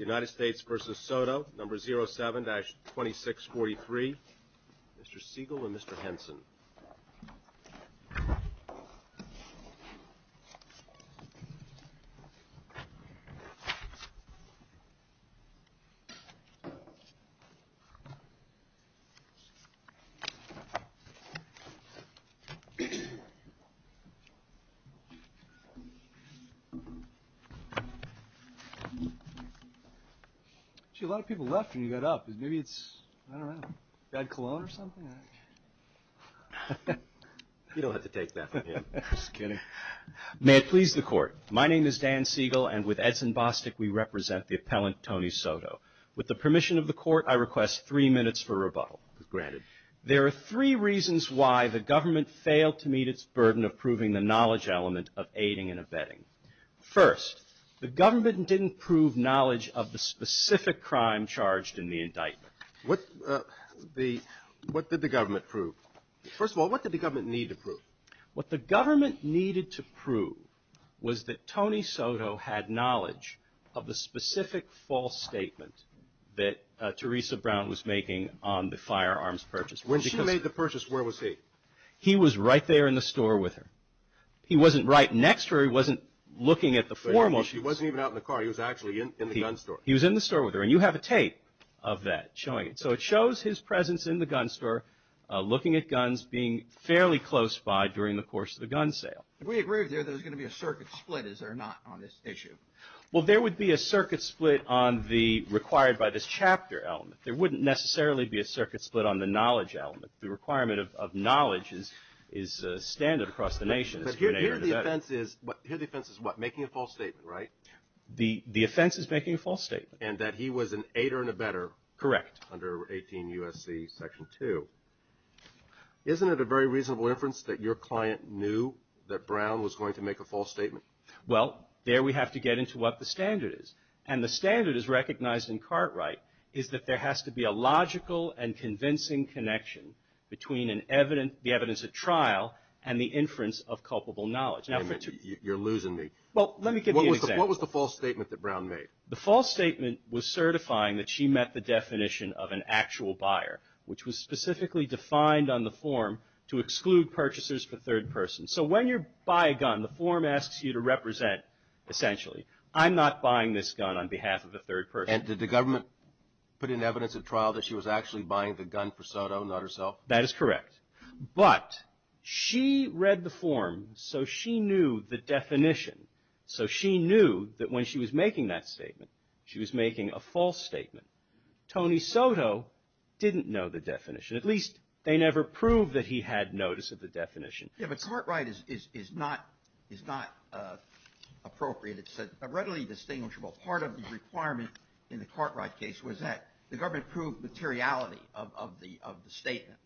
Number 07-2643. Mr. Siegel and Mr. Henson. A lot of people left when you got up. Maybe it's, I don't know, bad cologne or something? You don't have to take that from me. I'm just kidding. May it please the Court. My name is Dan Siegel, and with Edson Bostick, we represent the appellant Tony Soto. With the permission of the Court, I request three minutes for rebuttal, granted. There are three reasons why the government failed to meet its burden of proving the knowledge element of aiding and abetting. First, the government didn't prove knowledge of the specific crime charged in the indictment. What did the government prove? First of all, what did the government need to prove? What the government needed to prove was that Tony Soto had knowledge of the specific false statement that Teresa Brown was making on the firearms purchase. When she made the purchase, where was he? He was right there in the store with her. He wasn't right next to her. He wasn't looking at the form. He wasn't even out in the car. He was actually in the gun store. He was in the store with her, and you have a tape of that showing it. So it shows his presence in the gun store, looking at guns, being fairly close by during the course of the gun sale. We agree with you that there's going to be a circuit split, is there not, on this issue? Well, there would be a circuit split on the required by this chapter element. There wouldn't necessarily be a circuit split on the knowledge element. The requirement of knowledge is standard across the nation. But here the offense is what? Making a false statement, right? The offense is making a false statement. And that he was an aider and abetter. Correct. Under 18 U.S.C. Section 2. Isn't it a very reasonable inference that your client knew that Brown was going to make a false statement? Well, there we have to get into what the standard is. And the standard is recognized in Cartwright is that there has to be a logical and convincing connection between the evidence at trial and the inference of culpable knowledge. You're losing me. Well, let me give you an example. What was the false statement that Brown made? The false statement was certifying that she met the definition of an actual buyer, which was specifically defined on the form to exclude purchasers for third persons. I'm not buying this gun on behalf of a third person. And did the government put in evidence at trial that she was actually buying the gun for Soto, not herself? That is correct. But she read the form, so she knew the definition. So she knew that when she was making that statement, she was making a false statement. Tony Soto didn't know the definition. At least they never proved that he had notice of the definition. Yeah, but Cartwright is not appropriate. It's a readily distinguishable part of the requirement in the Cartwright case was that the government proved materiality of the statement.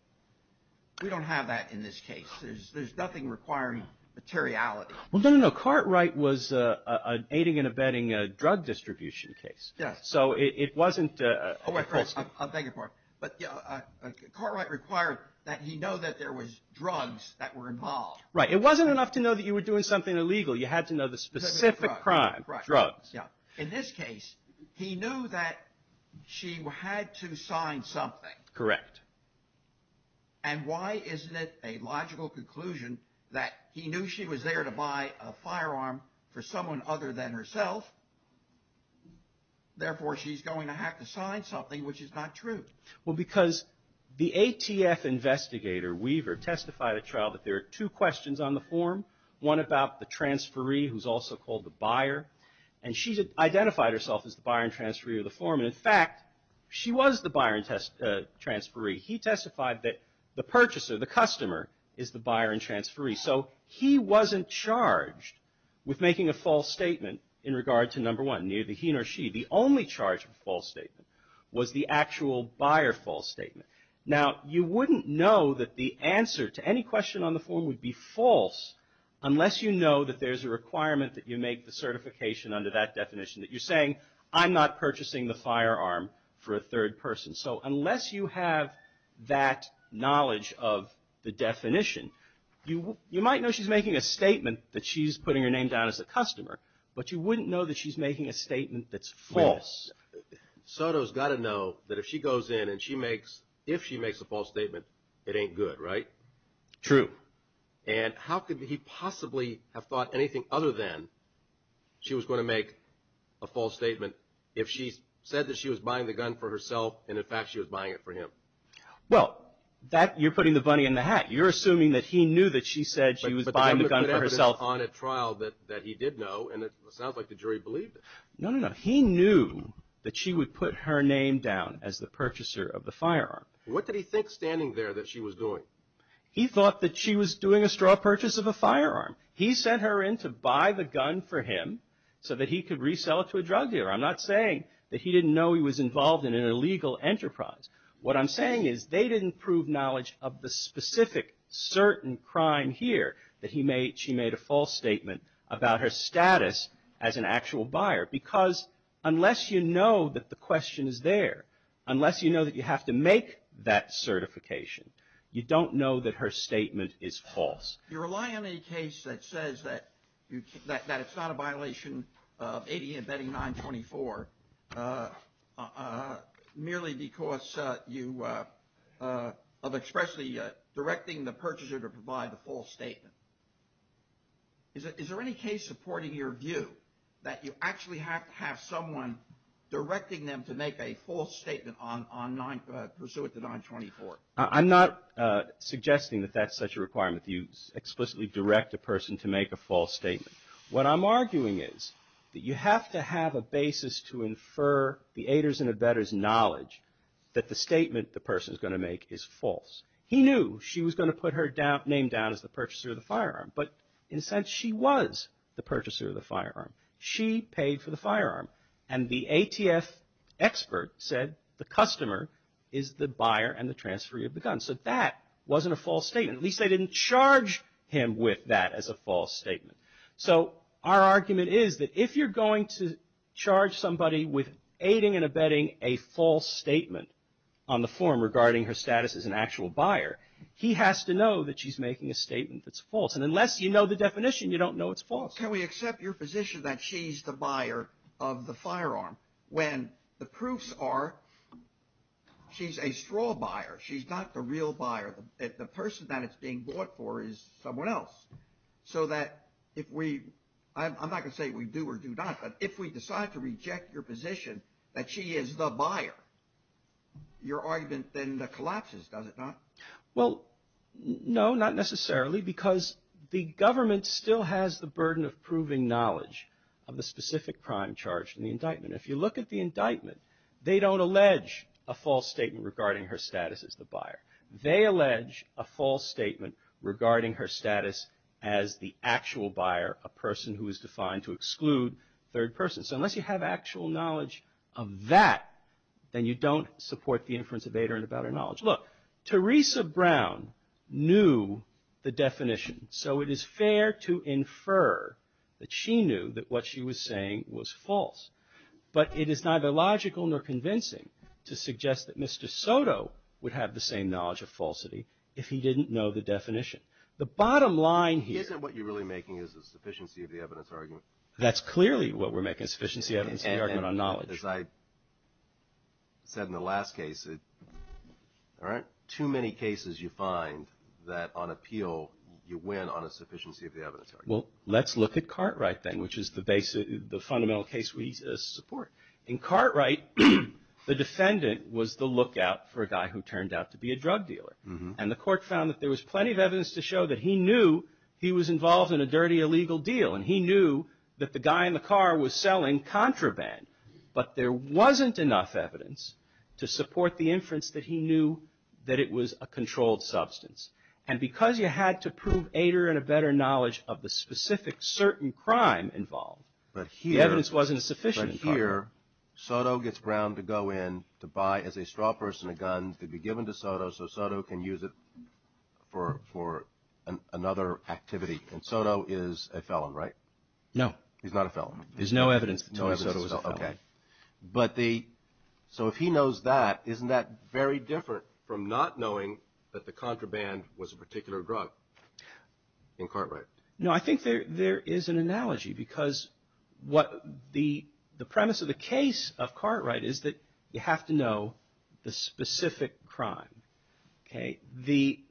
We don't have that in this case. There's nothing requiring materiality. Well, no, no, no. Cartwright was aiding and abetting a drug distribution case. Yeah. So it wasn't a false statement. Oh, I'm begging for it. But Cartwright required that he know that there was drugs that were involved. Right. It wasn't enough to know that you were doing something illegal. You had to know the specific crime, drugs. Yeah. In this case, he knew that she had to sign something. Correct. And why isn't it a logical conclusion that he knew she was there to buy a firearm for someone other than herself, therefore she's going to have to sign something, which is not true? Well, because the ATF investigator, Weaver, testified at trial that there are two questions on the form, one about the transferee, who's also called the buyer, and she identified herself as the buyer and transferee of the form. And, in fact, she was the buyer and transferee. He testified that the purchaser, the customer, is the buyer and transferee. So he wasn't charged with making a false statement in regard to number one, neither he nor she. The only charge of a false statement was the actual buyer false statement. Now, you wouldn't know that the answer to any question on the form would be false unless you know that there's a requirement that you make the certification under that definition that you're saying, I'm not purchasing the firearm for a third person. So unless you have that knowledge of the definition, you might know she's making a statement that she's putting her name down as a customer, but you wouldn't know that she's making a statement that's false. Soto's got to know that if she goes in and she makes, if she makes a false statement, it ain't good, right? True. And how could he possibly have thought anything other than she was going to make a false statement if she said that she was buying the gun for herself and, in fact, she was buying it for him? Well, that, you're putting the bunny in the hat. You're assuming that he knew that she said she was buying the gun for herself. But the government put evidence on at trial that he did know, and it sounds like the jury believed it. No, no, no. He knew that she would put her name down as the purchaser of the firearm. What did he think standing there that she was doing? He thought that she was doing a straw purchase of a firearm. He sent her in to buy the gun for him so that he could resell it to a drug dealer. I'm not saying that he didn't know he was involved in an illegal enterprise. What I'm saying is they didn't prove knowledge of the specific certain crime here that he made, a false statement about her status as an actual buyer. Because unless you know that the question is there, unless you know that you have to make that certification, you don't know that her statement is false. You rely on a case that says that it's not a violation of ADA embedding 924, merely because you have expressly directing the purchaser to provide the false statement. Is there any case supporting your view that you actually have to have someone directing them to make a false statement on 924? I'm not suggesting that that's such a requirement. You explicitly direct a person to make a false statement. What I'm arguing is that you have to have a basis to infer the ADA's and embedder's knowledge that the statement the person is going to make is false. He knew she was going to put her name down as the purchaser of the firearm, but in a sense she was the purchaser of the firearm. She paid for the firearm, and the ATF expert said the customer is the buyer and the transferee of the gun. So that wasn't a false statement. At least they didn't charge him with that as a false statement. So our argument is that if you're going to charge somebody with aiding and abetting a false statement on the form regarding her status as an actual buyer, he has to know that she's making a statement that's false. And unless you know the definition, you don't know it's false. Can we accept your position that she's the buyer of the firearm when the proofs are she's a straw buyer. She's not the real buyer. The person that it's being bought for is someone else. So that if we – I'm not going to say we do or do not, but if we decide to reject your position that she is the buyer, your argument then collapses, does it not? Well, no, not necessarily because the government still has the burden of proving knowledge of the specific crime charged in the indictment. If you look at the indictment, they don't allege a false statement regarding her status as the buyer. They allege a false statement regarding her status as the actual buyer, a person who is defined to exclude third person. So unless you have actual knowledge of that, then you don't support the inference of Ader and about her knowledge. Look, Teresa Brown knew the definition. So it is fair to infer that she knew that what she was saying was false. But it is neither logical nor convincing to suggest that Mr. Soto would have the same knowledge of falsity if he didn't know the definition. The bottom line here – Isn't what you're really making is a sufficiency of the evidence argument? That's clearly what we're making, a sufficiency of the evidence argument on knowledge. As I said in the last case, there aren't too many cases you find that on appeal you win on a sufficiency of the evidence argument. Well, let's look at Cartwright then, which is the fundamental case we support. In Cartwright, the defendant was the lookout for a guy who turned out to be a drug dealer. And the court found that there was plenty of evidence to show that he knew he was involved in a dirty illegal deal. And he knew that the guy in the car was selling contraband. But there wasn't enough evidence to support the inference that he knew that it was a controlled substance. And because you had to prove Ader and a better knowledge of the specific certain crime involved, the evidence wasn't sufficient. But here Soto gets Brown to go in to buy as a straw person a gun to be given to Soto so Soto can use it for another activity. And Soto is a felon, right? No. He's not a felon. There's no evidence that Soto was a felon. Okay. So if he knows that, isn't that very different from not knowing that the contraband was a particular drug in Cartwright? No, I think there is an analogy because what the premise of the case of Cartwright is that you have to know the specific crime. Okay.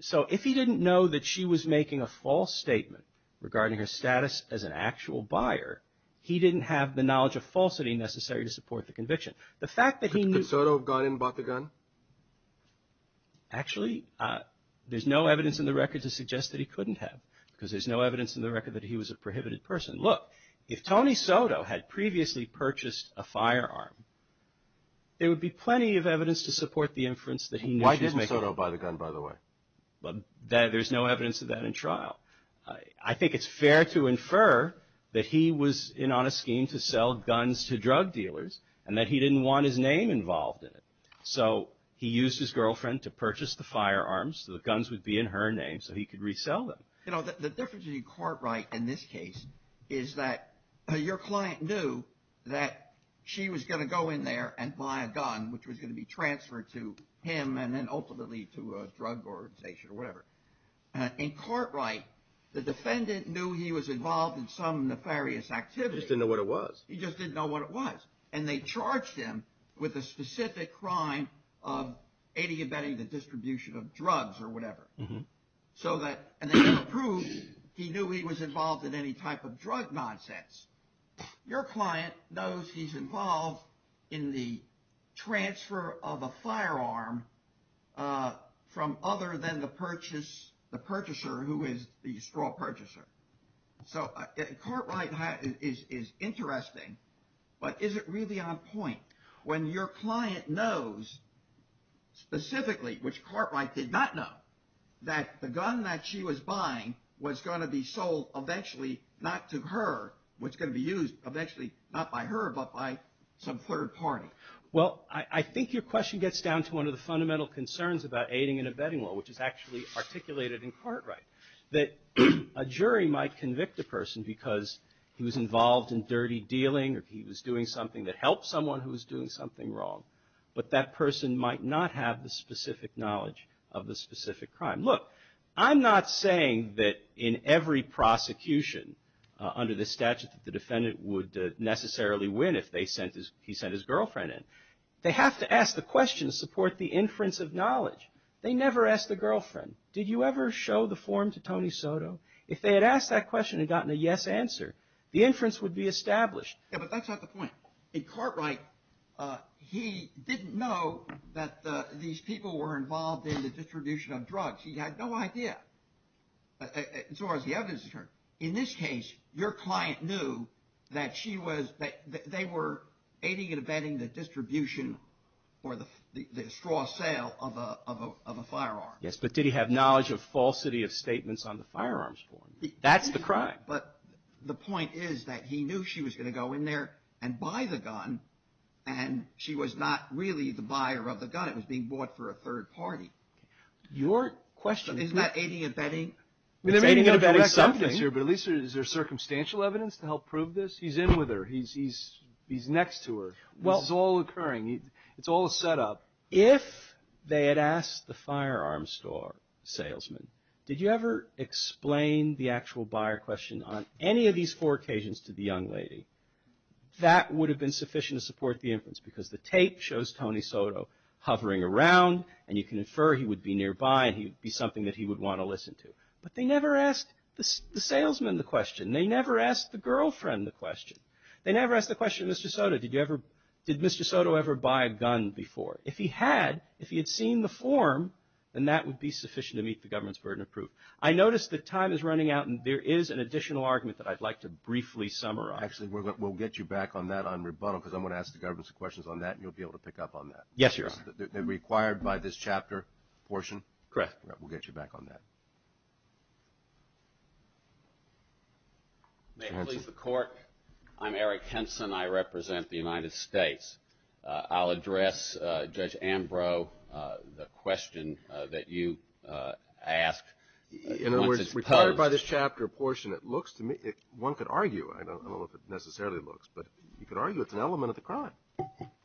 So if he didn't know that she was making a false statement regarding her status as an actual buyer, he didn't have the knowledge of falsity necessary to support the conviction. Could Soto have gone in and bought the gun? Actually, there's no evidence in the record to suggest that he couldn't have because there's no evidence in the record that he was a prohibited person. Look, if Tony Soto had previously purchased a firearm, there would be plenty of evidence to support the inference that he knew she was making. Why didn't Soto buy the gun, by the way? There's no evidence of that in trial. I think it's fair to infer that he was in on a scheme to sell guns to drug dealers and that he didn't want his name involved in it. So he used his girlfriend to purchase the firearms so the guns would be in her name so he could resell them. You know, the difference in Cartwright in this case is that your client knew that she was going to go in there and buy a gun, which was going to be transferred to him and then ultimately to a drug organization or whatever. In Cartwright, the defendant knew he was involved in some nefarious activity. He just didn't know what it was. He just didn't know what it was. And they charged him with a specific crime of adiabating the distribution of drugs or whatever. And they have proof he knew he was involved in any type of drug nonsense. Your client knows he's involved in the transfer of a firearm from other than the purchaser who is the straw purchaser. So Cartwright is interesting, but is it really on point? When your client knows specifically, which Cartwright did not know, that the gun that she was buying was going to be sold eventually not to her, was going to be used eventually not by her but by some third party? Well, I think your question gets down to one of the fundamental concerns about aiding and abetting law, which is actually articulated in Cartwright, that a jury might convict a person because he was involved in dirty dealing or he was doing something that helped someone who was doing something wrong. But that person might not have the specific knowledge of the specific crime. Look, I'm not saying that in every prosecution under the statute that the defendant would necessarily win if he sent his girlfriend in. They have to ask the question to support the inference of knowledge. They never ask the girlfriend, did you ever show the form to Tony Soto? If they had asked that question and gotten a yes answer, the inference would be established. Yeah, but that's not the point. In Cartwright, he didn't know that these people were involved in the distribution of drugs. He had no idea, as far as the evidence is concerned. In this case, your client knew that they were aiding and abetting the distribution or the straw sale of a firearm. Yes, but did he have knowledge of falsity of statements on the firearms form? That's the crime. But the point is that he knew she was going to go in there and buy the gun, and she was not really the buyer of the gun. It was being bought for a third party. Your question is not aiding and abetting. They're aiding and abetting something, but at least is there circumstantial evidence to help prove this? He's in with her. He's next to her. This is all occurring. It's all a setup. If they had asked the firearm store salesman, did you ever explain the actual buyer question on any of these four occasions to the young lady, that would have been sufficient to support the inference, because the tape shows Tony Soto hovering around, and you can infer he would be nearby and he would be something that he would want to listen to. But they never asked the salesman the question. They never asked the girlfriend the question. They never asked the question, Mr. Soto, did you ever, did Mr. Soto ever buy a gun before? If he had, if he had seen the form, then that would be sufficient to meet the government's burden of proof. I notice that time is running out, and there is an additional argument that I'd like to briefly summarize. Actually, we'll get you back on that on rebuttal, because I'm going to ask the government some questions on that, and you'll be able to pick up on that. Yes, Your Honor. And required by this chapter portion. Correct. We'll get you back on that. May it please the Court. I'm Eric Henson. I represent the United States. I'll address Judge Ambrose, the question that you asked. In other words, required by this chapter portion, it looks to me, one could argue, I don't know if it necessarily looks, but you could argue it's an element of the crime. In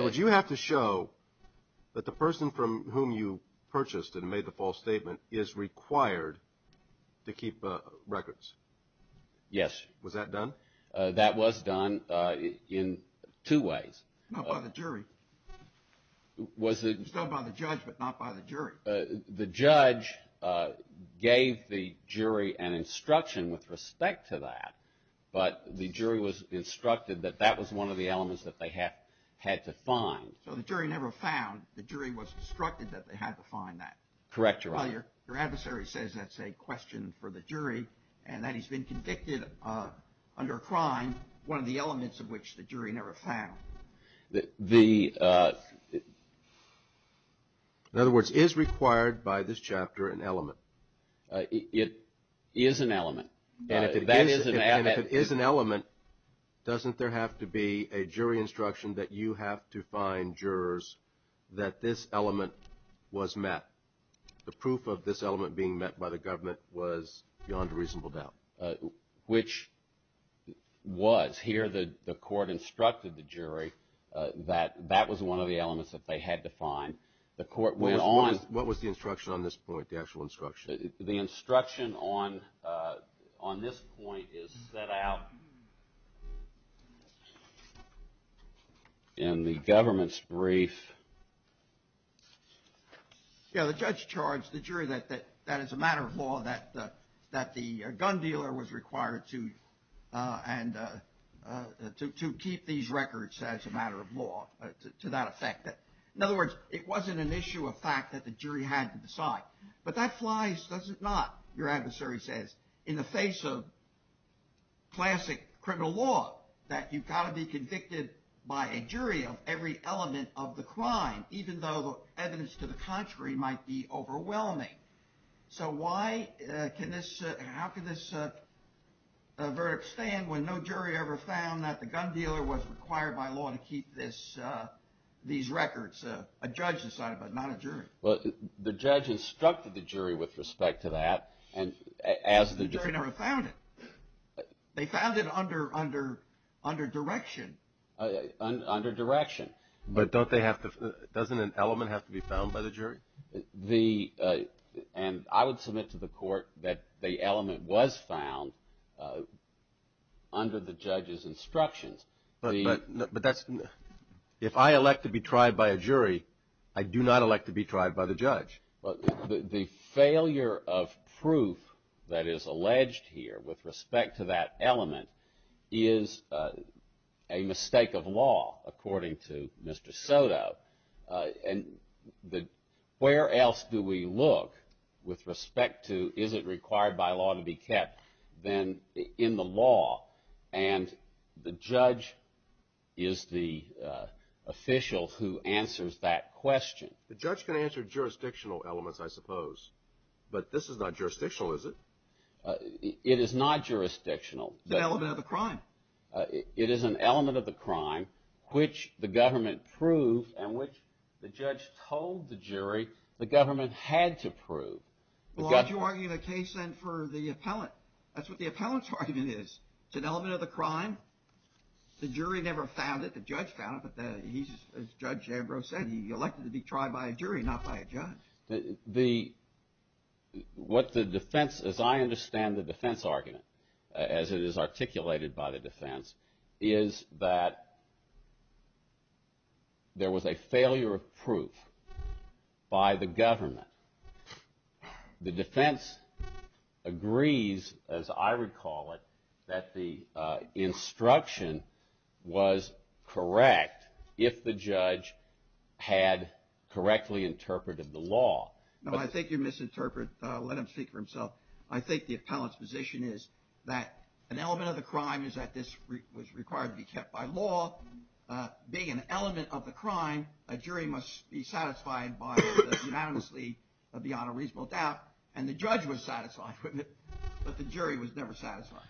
other words, you have to show that the person from whom you purchased and made the false statement is required to keep records. Yes. Was that done? That was done in two ways. Not by the jury. Was it? It was done by the judge, but not by the jury. The judge gave the jury an instruction with respect to that, but the jury was instructed that that was one of the elements that they had to find. So the jury never found. Correct, Your Honor. Well, your adversary says that's a question for the jury and that he's been convicted under a crime, one of the elements of which the jury never found. In other words, is required by this chapter an element? It is an element. And if it is an element, doesn't there have to be a jury instruction that you have to find jurors that this element was met? The proof of this element being met by the government was beyond a reasonable doubt. Which was. Here the court instructed the jury that that was one of the elements that they had to find. The court went on. What was the instruction on this point, the actual instruction? The instruction on this point is set out in the government's brief. Yeah, the judge charged the jury that that is a matter of law, that the gun dealer was required to keep these records as a matter of law to that effect. In other words, it wasn't an issue of fact that the jury had to decide. But that flies, does it not, your adversary says, in the face of classic criminal law that you've got to be convicted by a jury of every element of the crime. Even though evidence to the contrary might be overwhelming. So how can this verdict stand when no jury ever found that the gun dealer was required by law to keep these records? A judge decided, but not a jury. Well, the judge instructed the jury with respect to that. The jury never found it. They found it under direction. Under direction. But don't they have to, doesn't an element have to be found by the jury? The, and I would submit to the court that the element was found under the judge's instructions. But that's, if I elect to be tried by a jury, I do not elect to be tried by the judge. The failure of proof that is alleged here with respect to that element is a mistake of law, according to Mr. Soto. And where else do we look with respect to is it required by law to be kept than in the law? And the judge is the official who answers that question. The judge can answer jurisdictional elements, I suppose. But this is not jurisdictional, is it? It is not jurisdictional. It's an element of the crime. It is an element of the crime which the government proved and which the judge told the jury the government had to prove. Well, aren't you arguing the case then for the appellant? That's what the appellant's argument is. It's an element of the crime. The jury never found it. The judge found it. But he's, as Judge Ambrose said, he elected to be tried by a jury, not by a judge. The, what the defense, as I understand the defense argument, as it is articulated by the defense, is that there was a failure of proof by the government. The defense agrees, as I recall it, that the instruction was correct if the judge had correctly interpreted the law. No, I think you misinterpreted. Let him speak for himself. I think the appellant's position is that an element of the crime is that this was required to be kept by law. Being an element of the crime, a jury must be satisfied by it unanimously beyond a reasonable doubt, and the judge was satisfied with it, but the jury was never satisfied.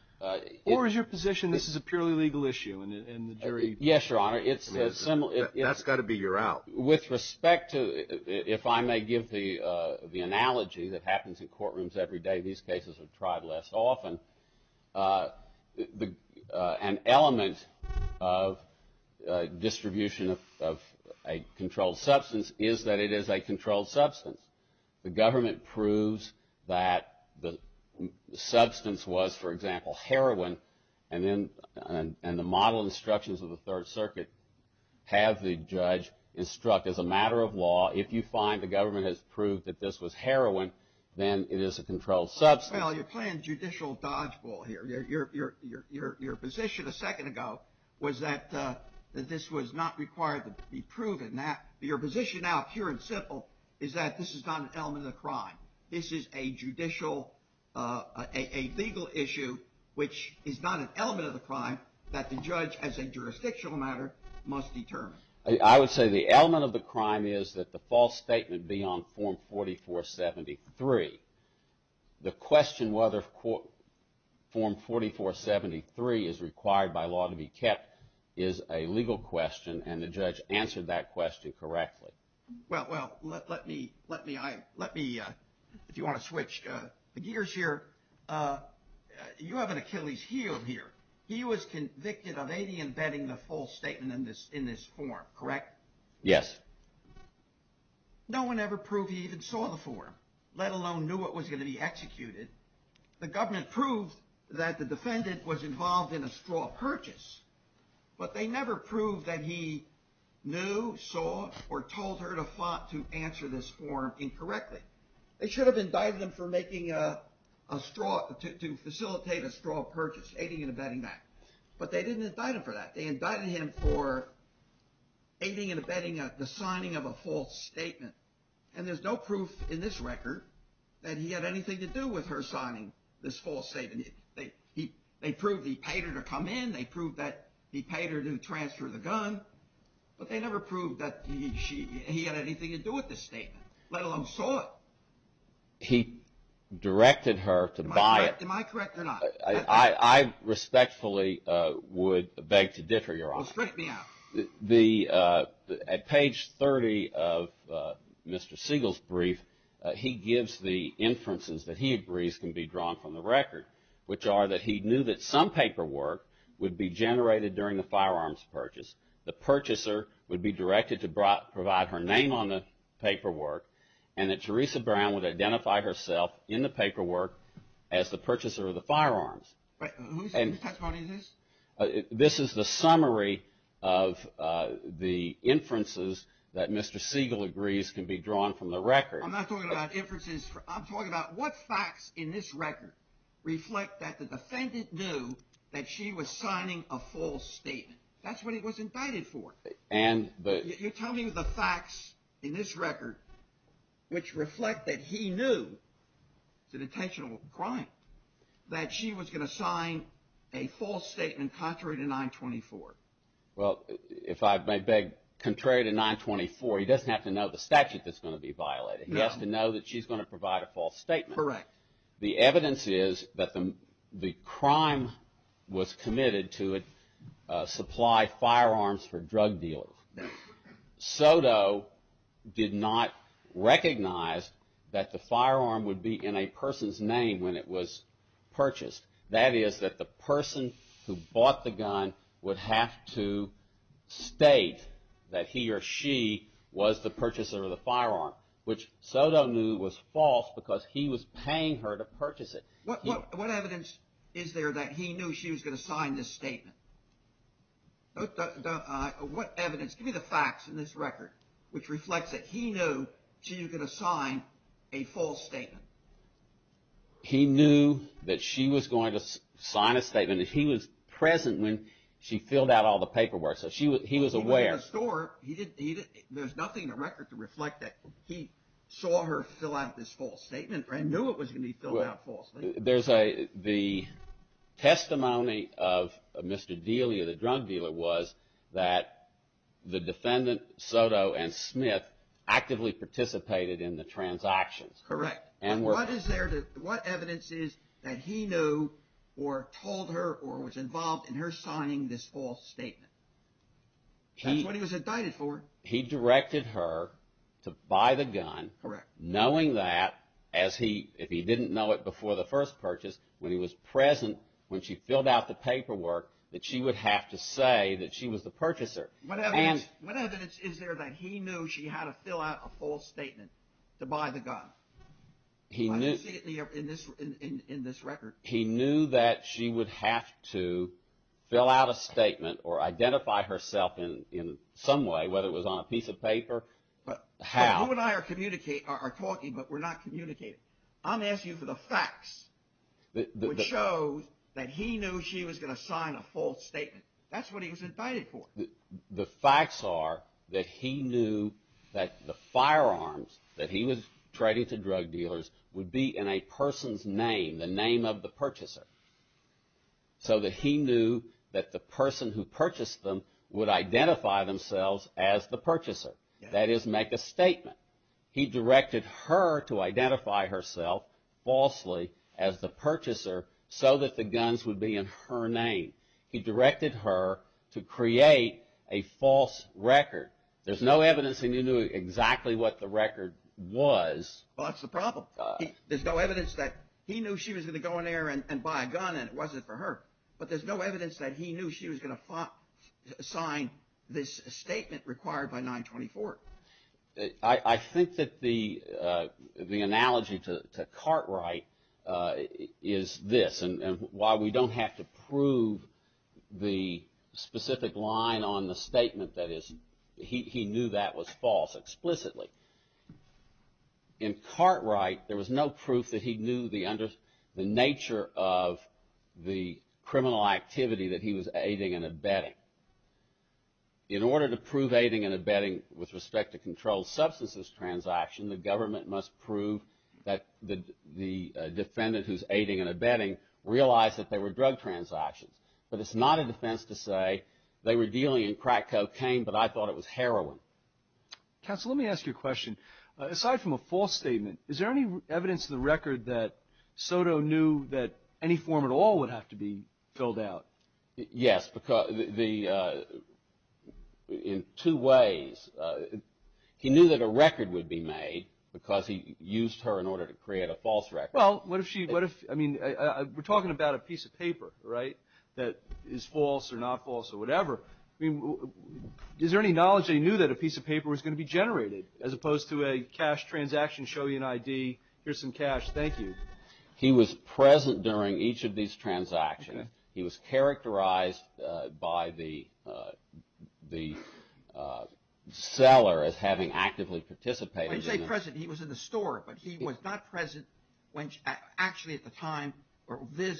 Or is your position this is a purely legal issue and the jury? Yes, Your Honor. That's got to be your out. With respect to, if I may give the analogy that happens in courtrooms every day, these cases are tried less often, an element of distribution of a controlled substance is that it is a controlled substance. The government proves that the substance was, for example, heroin, and then the model instructions of the Third Circuit have the judge instruct as a matter of law, if you find the government has proved that this was heroin, then it is a controlled substance. Well, you're playing judicial dodgeball here. Your position a second ago was that this was not required to be proven. Your position now, pure and simple, is that this is not an element of the crime. This is a judicial, a legal issue which is not an element of the crime that the judge, as a jurisdictional matter, must determine. I would say the element of the crime is that the false statement be on Form 4473. The question whether Form 4473 is required by law to be kept is a legal question, and the judge answered that question correctly. Well, let me, if you want to switch gears here, you have an Achilles heel here. He was convicted of aiding and abetting the false statement in this form, correct? Yes. No one ever proved he even saw the form, let alone knew it was going to be executed. The government proved that the defendant was involved in a straw purchase, but they never proved that he knew, saw, or told her to answer this form incorrectly. They should have indicted him for making a straw, to facilitate a straw purchase, aiding and abetting that, but they didn't indict him for that. They indicted him for aiding and abetting the signing of a false statement, and there's no proof in this record that he had anything to do with her signing this false statement. They proved he paid her to come in. They proved that he paid her to transfer the gun, but they never proved that he had anything to do with this statement, let alone saw it. He directed her to buy it. Am I correct or not? I respectfully would beg to dither, Your Honor. Well, strike me out. At page 30 of Mr. Siegel's brief, he gives the inferences that he agrees can be drawn from the record, which are that he knew that some paperwork would be generated during the firearms purchase, the purchaser would be directed to provide her name on the paperwork, and that Theresa Brown would identify herself in the paperwork as the purchaser of the firearms. Wait, whose testimony is this? This is the summary of the inferences that Mr. Siegel agrees can be drawn from the record. I'm not talking about inferences. I'm talking about what facts in this record reflect that the defendant knew that she was signing a false statement. That's what he was indicted for. You're telling me the facts in this record, which reflect that he knew it was an intentional crime, that she was going to sign a false statement contrary to 924. Well, if I may beg, contrary to 924, he doesn't have to know the statute that's going to be violated. He has to know that she's going to provide a false statement. Correct. The evidence is that the crime was committed to supply firearms for drug dealers. Soto did not recognize that the firearm would be in a person's name when it was purchased. That is that the person who bought the gun would have to state that he or she was the purchaser of the firearm, which Soto knew was false because he was paying her to purchase it. What evidence is there that he knew she was going to sign this statement? What evidence? Give me the facts in this record, which reflects that he knew she was going to sign a false statement. He knew that she was going to sign a statement. He was present when she filled out all the paperwork, so he was aware. There's nothing in the record to reflect that he saw her fill out this false statement and knew it was going to be filled out falsely. The testimony of Mr. Delia, the drug dealer, was that the defendant, Soto and Smith, actively participated in the transactions. Correct. What evidence is there that he knew or told her or was involved in her signing this false statement? That's what he was indicted for. He directed her to buy the gun. Correct. Knowing that, if he didn't know it before the first purchase, when he was present when she filled out the paperwork, that she would have to say that she was the purchaser. What evidence is there that he knew she had to fill out a false statement to buy the gun? Why don't you see it in this record? He knew that she would have to fill out a statement or identify herself in some way, whether it was on a piece of paper, how. But you and I are talking, but we're not communicating. I'm asking you for the facts which show that he knew she was going to sign a false statement. That's what he was indicted for. The facts are that he knew that the firearms that he was trading to drug dealers would be in a person's name, the name of the purchaser, so that he knew that the person who purchased them would identify themselves as the purchaser. That is, make a statement. He directed her to identify herself falsely as the purchaser so that the guns would be in her name. He directed her to create a false record. There's no evidence that he knew exactly what the record was. Well, that's the problem. There's no evidence that he knew she was going to go in there and buy a gun and it wasn't for her. But there's no evidence that he knew she was going to sign this statement required by 924. I think that the analogy to Cartwright is this. And while we don't have to prove the specific line on the statement, that is, he knew that was false explicitly. In Cartwright, there was no proof that he knew the nature of the criminal activity that he was aiding and abetting. In order to prove aiding and abetting with respect to controlled substances transaction, the government must prove that the defendant who's aiding and abetting realized that they were drug transactions. But it's not a defense to say they were dealing in crack cocaine, but I thought it was heroin. Counsel, let me ask you a question. Aside from a false statement, is there any evidence in the record that Soto knew that any form at all would have to be filled out? Yes, in two ways. He knew that a record would be made because he used her in order to create a false record. Well, what if she, I mean, we're talking about a piece of paper, right, that is false or not false or whatever. I mean, is there any knowledge that he knew that a piece of paper was going to be generated as opposed to a cash transaction, show you an ID, here's some cash, thank you. He was present during each of these transactions. He was characterized by the seller as having actively participated. When you say present, he was in the store, but he was not present actually at the time.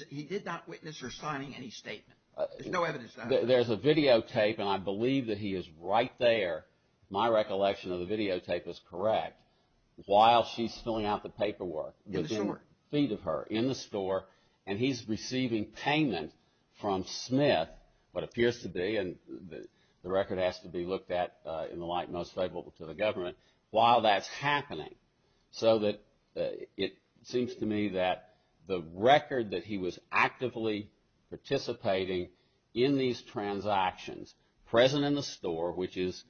He did not witness her signing any statement. There's no evidence of that. There's a videotape, and I believe that he is right there, my recollection of the videotape is correct, while she's filling out the paperwork. In the store. In the store, and he's receiving payment from Smith, what appears to be, and the record has to be looked at in the light most favorable to the government, while that's happening. So that it seems to me that the record that he was actively participating in these transactions, present in the store, which is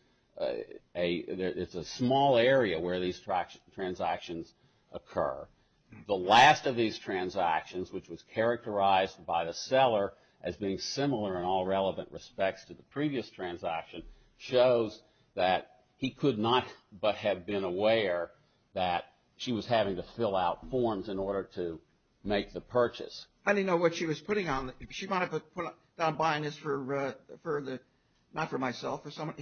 a small area where these transactions occur, the last of these transactions, which was characterized by the seller as being similar in all relevant respects to the previous transaction, shows that he could not but have been aware that she was having to fill out forms in order to make the purchase. I didn't know what she was putting on. She might have been buying this for the, not for myself, for someone,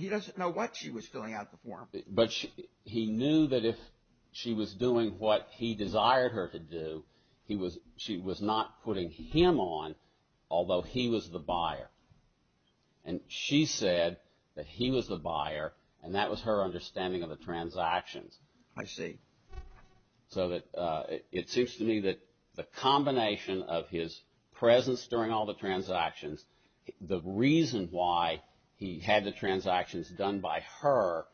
but he knew that if she was doing what he desired her to do, she was not putting him on, although he was the buyer. And she said that he was the buyer, and that was her understanding of the transactions. I see. So it seems to me that the combination of his presence during all the transactions, the reason why he had the transactions done by her,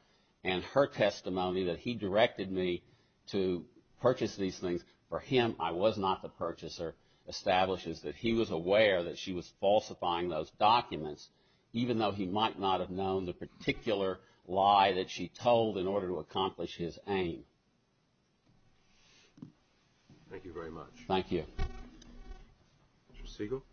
and her testimony that he directed me to purchase these things for him, I was not the purchaser, establishes that he was aware that she was falsifying those documents, even though he might not have known the particular lie that she told in order to accomplish his aim. Thank you very much. Thank you. Mr. Siegel.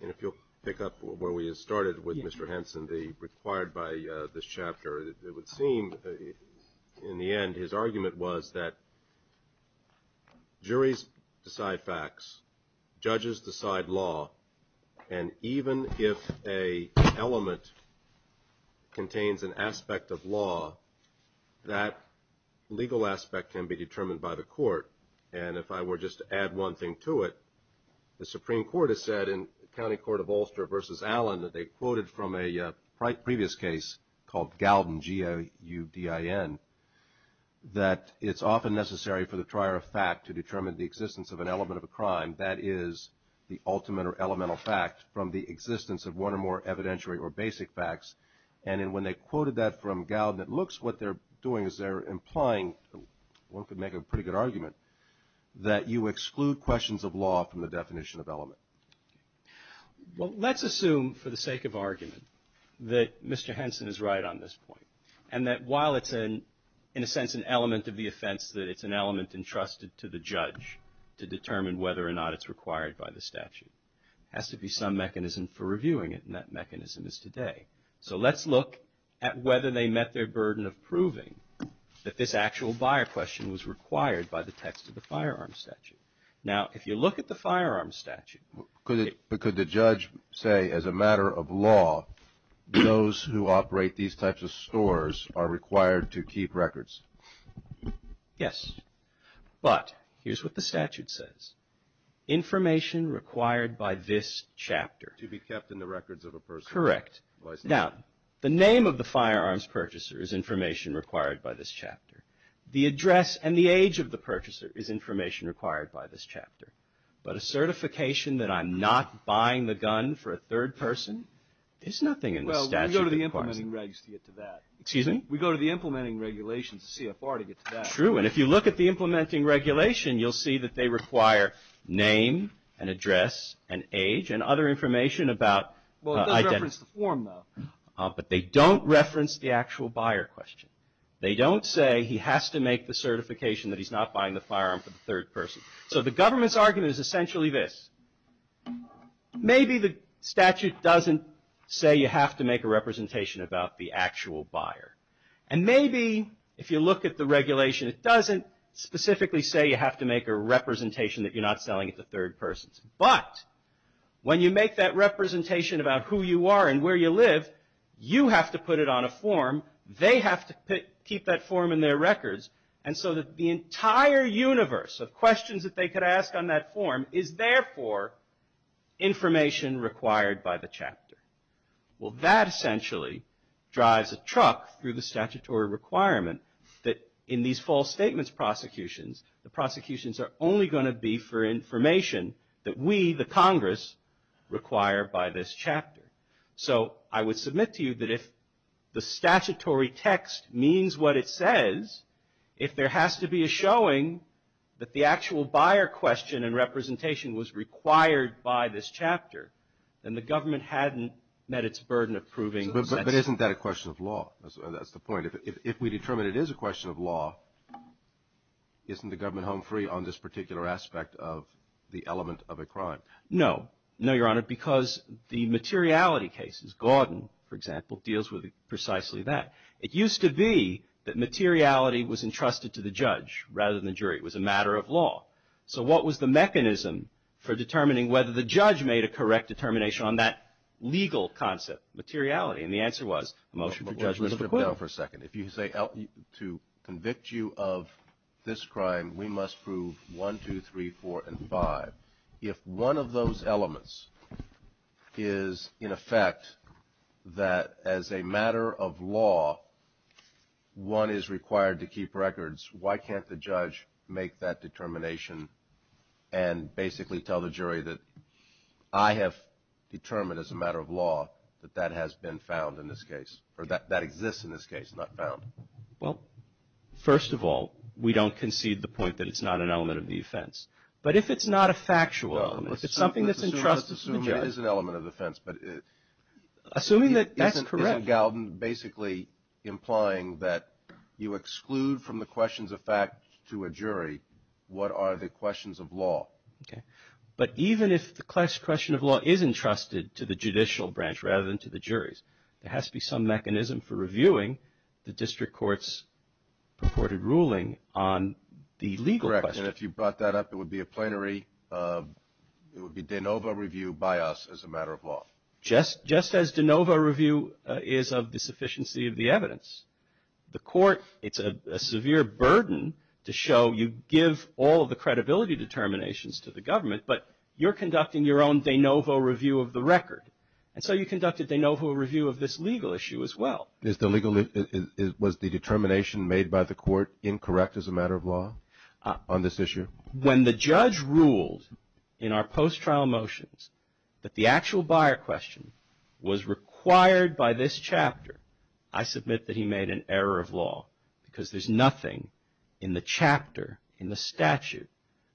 And if you'll pick up where we started with Mr. Henson, the required by this chapter, it would seem in the end his argument was that juries decide facts, judges decide law, and even if an element contains an aspect of law, that legal aspect can be determined by the court. And if I were just to add one thing to it, the Supreme Court has said in the County Court of Ulster v. Allen that they quoted from a previous case called Galden, G-A-U-D-I-N, that it's often necessary for the trier of fact to determine the existence of an element of a crime. That is the ultimate or elemental fact from the existence of one or more evidentiary or basic facts. And when they quoted that from Galden, it looks what they're doing is they're implying, one could make a pretty good argument, that you exclude questions of law from the definition of element. Well, let's assume for the sake of argument that Mr. Henson is right on this point, and that while it's in a sense an element of the offense, that it's an element entrusted to the judge to determine whether or not it's required by the statute. It has to be some mechanism for reviewing it, and that mechanism is today. So let's look at whether they met their burden of proving that this actual buyer question was required by the text of the firearms statute. Now, if you look at the firearms statute. Could the judge say as a matter of law, those who operate these types of stores are required to keep records? Yes. But here's what the statute says. Information required by this chapter. To be kept in the records of a person. Correct. Now, the name of the firearms purchaser is information required by this chapter. But a certification that I'm not buying the gun for a third person, there's nothing in the statute that requires it. Well, we go to the implementing regulations to get to that. Excuse me? We go to the implementing regulations, the CFR, to get to that. True. And if you look at the implementing regulation, you'll see that they require name and address and age and other information about identity. Well, it does reference the form, though. But they don't reference the actual buyer question. They don't say he has to make the certification that he's not buying the firearm for the third person. So the government's argument is essentially this. Maybe the statute doesn't say you have to make a representation about the actual buyer. And maybe if you look at the regulation, it doesn't specifically say you have to make a representation that you're not selling it to third persons. But when you make that representation about who you are and where you live, you have to put it on a form. They have to keep that form in their records. And so the entire universe of questions that they could ask on that form is, therefore, information required by the chapter. Well, that essentially drives a truck through the statutory requirement that in these false statements prosecutions, the prosecutions are only going to be for information that we, the Congress, require by this chapter. So I would submit to you that if the statutory text means what it says, if there has to be a showing that the actual buyer question and representation was required by this chapter, then the government hadn't met its burden of proving. But isn't that a question of law? That's the point. If we determine it is a question of law, isn't the government home free on this particular aspect of the element of a crime? No. No, Your Honor, because the materiality cases, Gordon, for example, deals with precisely that. It used to be that materiality was entrusted to the judge rather than the jury. It was a matter of law. So what was the mechanism for determining whether the judge made a correct determination on that legal concept, materiality? And the answer was motion for judgment of acquittal. Hold on for a second. If you say to convict you of this crime, we must prove 1, 2, 3, 4, and 5. If one of those elements is, in effect, that as a matter of law, one is required to keep records, why can't the judge make that determination and basically tell the jury that I have determined as a matter of law that that has been found in this case or that exists in this case, not found? Well, first of all, we don't concede the point that it's not an element of the offense. But if it's not a factual element, if it's something that's entrusted to the judge. Assuming it is an element of the offense. Assuming that that's correct. Isn't Galden basically implying that you exclude from the questions of fact to a jury what are the questions of law? But even if the question of law is entrusted to the judicial branch rather than to the juries, there has to be some mechanism for reviewing the district court's purported ruling on the legal question. Correct. And if you brought that up, it would be a plenary. It would be de novo review by us as a matter of law. Just as de novo review is of the sufficiency of the evidence. The court, it's a severe burden to show you give all of the credibility determinations to the government. But you're conducting your own de novo review of the record. And so you conducted de novo review of this legal issue as well. Was the determination made by the court incorrect as a matter of law on this issue? When the judge ruled in our post-trial motions that the actual buyer question was required by this chapter, I submit that he made an error of law because there's nothing in the chapter, in the statute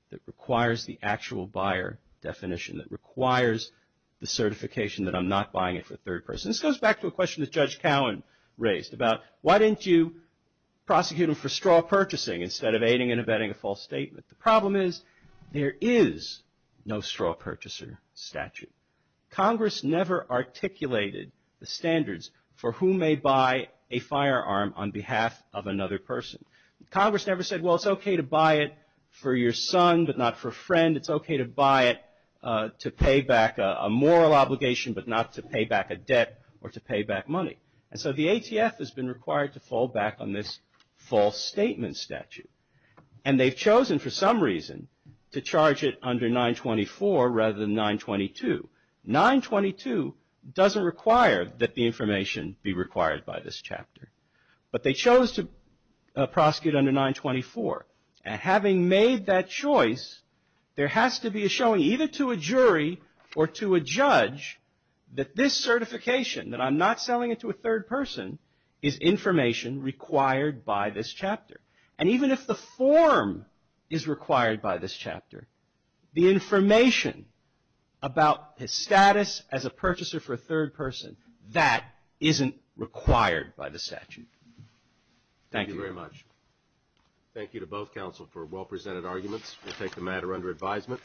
that requires the actual buyer definition, that requires the certification that I'm not buying it for a third person. This goes back to a question that Judge Cowen raised about why didn't you prosecute him for straw purchasing instead of aiding and abetting a false statement? The problem is there is no straw purchaser statute. Congress never articulated the standards for who may buy a firearm on behalf of another person. Congress never said, well, it's okay to buy it for your son but not for a friend. It's okay to buy it to pay back a moral obligation but not to pay back a debt or to pay back money. And so the ATF has been required to fall back on this false statement statute. And they've chosen for some reason to charge it under 924 rather than 922. 922 doesn't require that the information be required by this chapter. But they chose to prosecute under 924. And having made that choice, there has to be a showing either to a jury or to a judge that this certification, that I'm not selling it to a third person, is information required by this chapter. And even if the form is required by this chapter, the information about his status as a purchaser for a third person, that isn't required by the statute. Thank you. Thank you very much. Thank you to both counsel for well-presented arguments. We'll take the matter under advisement.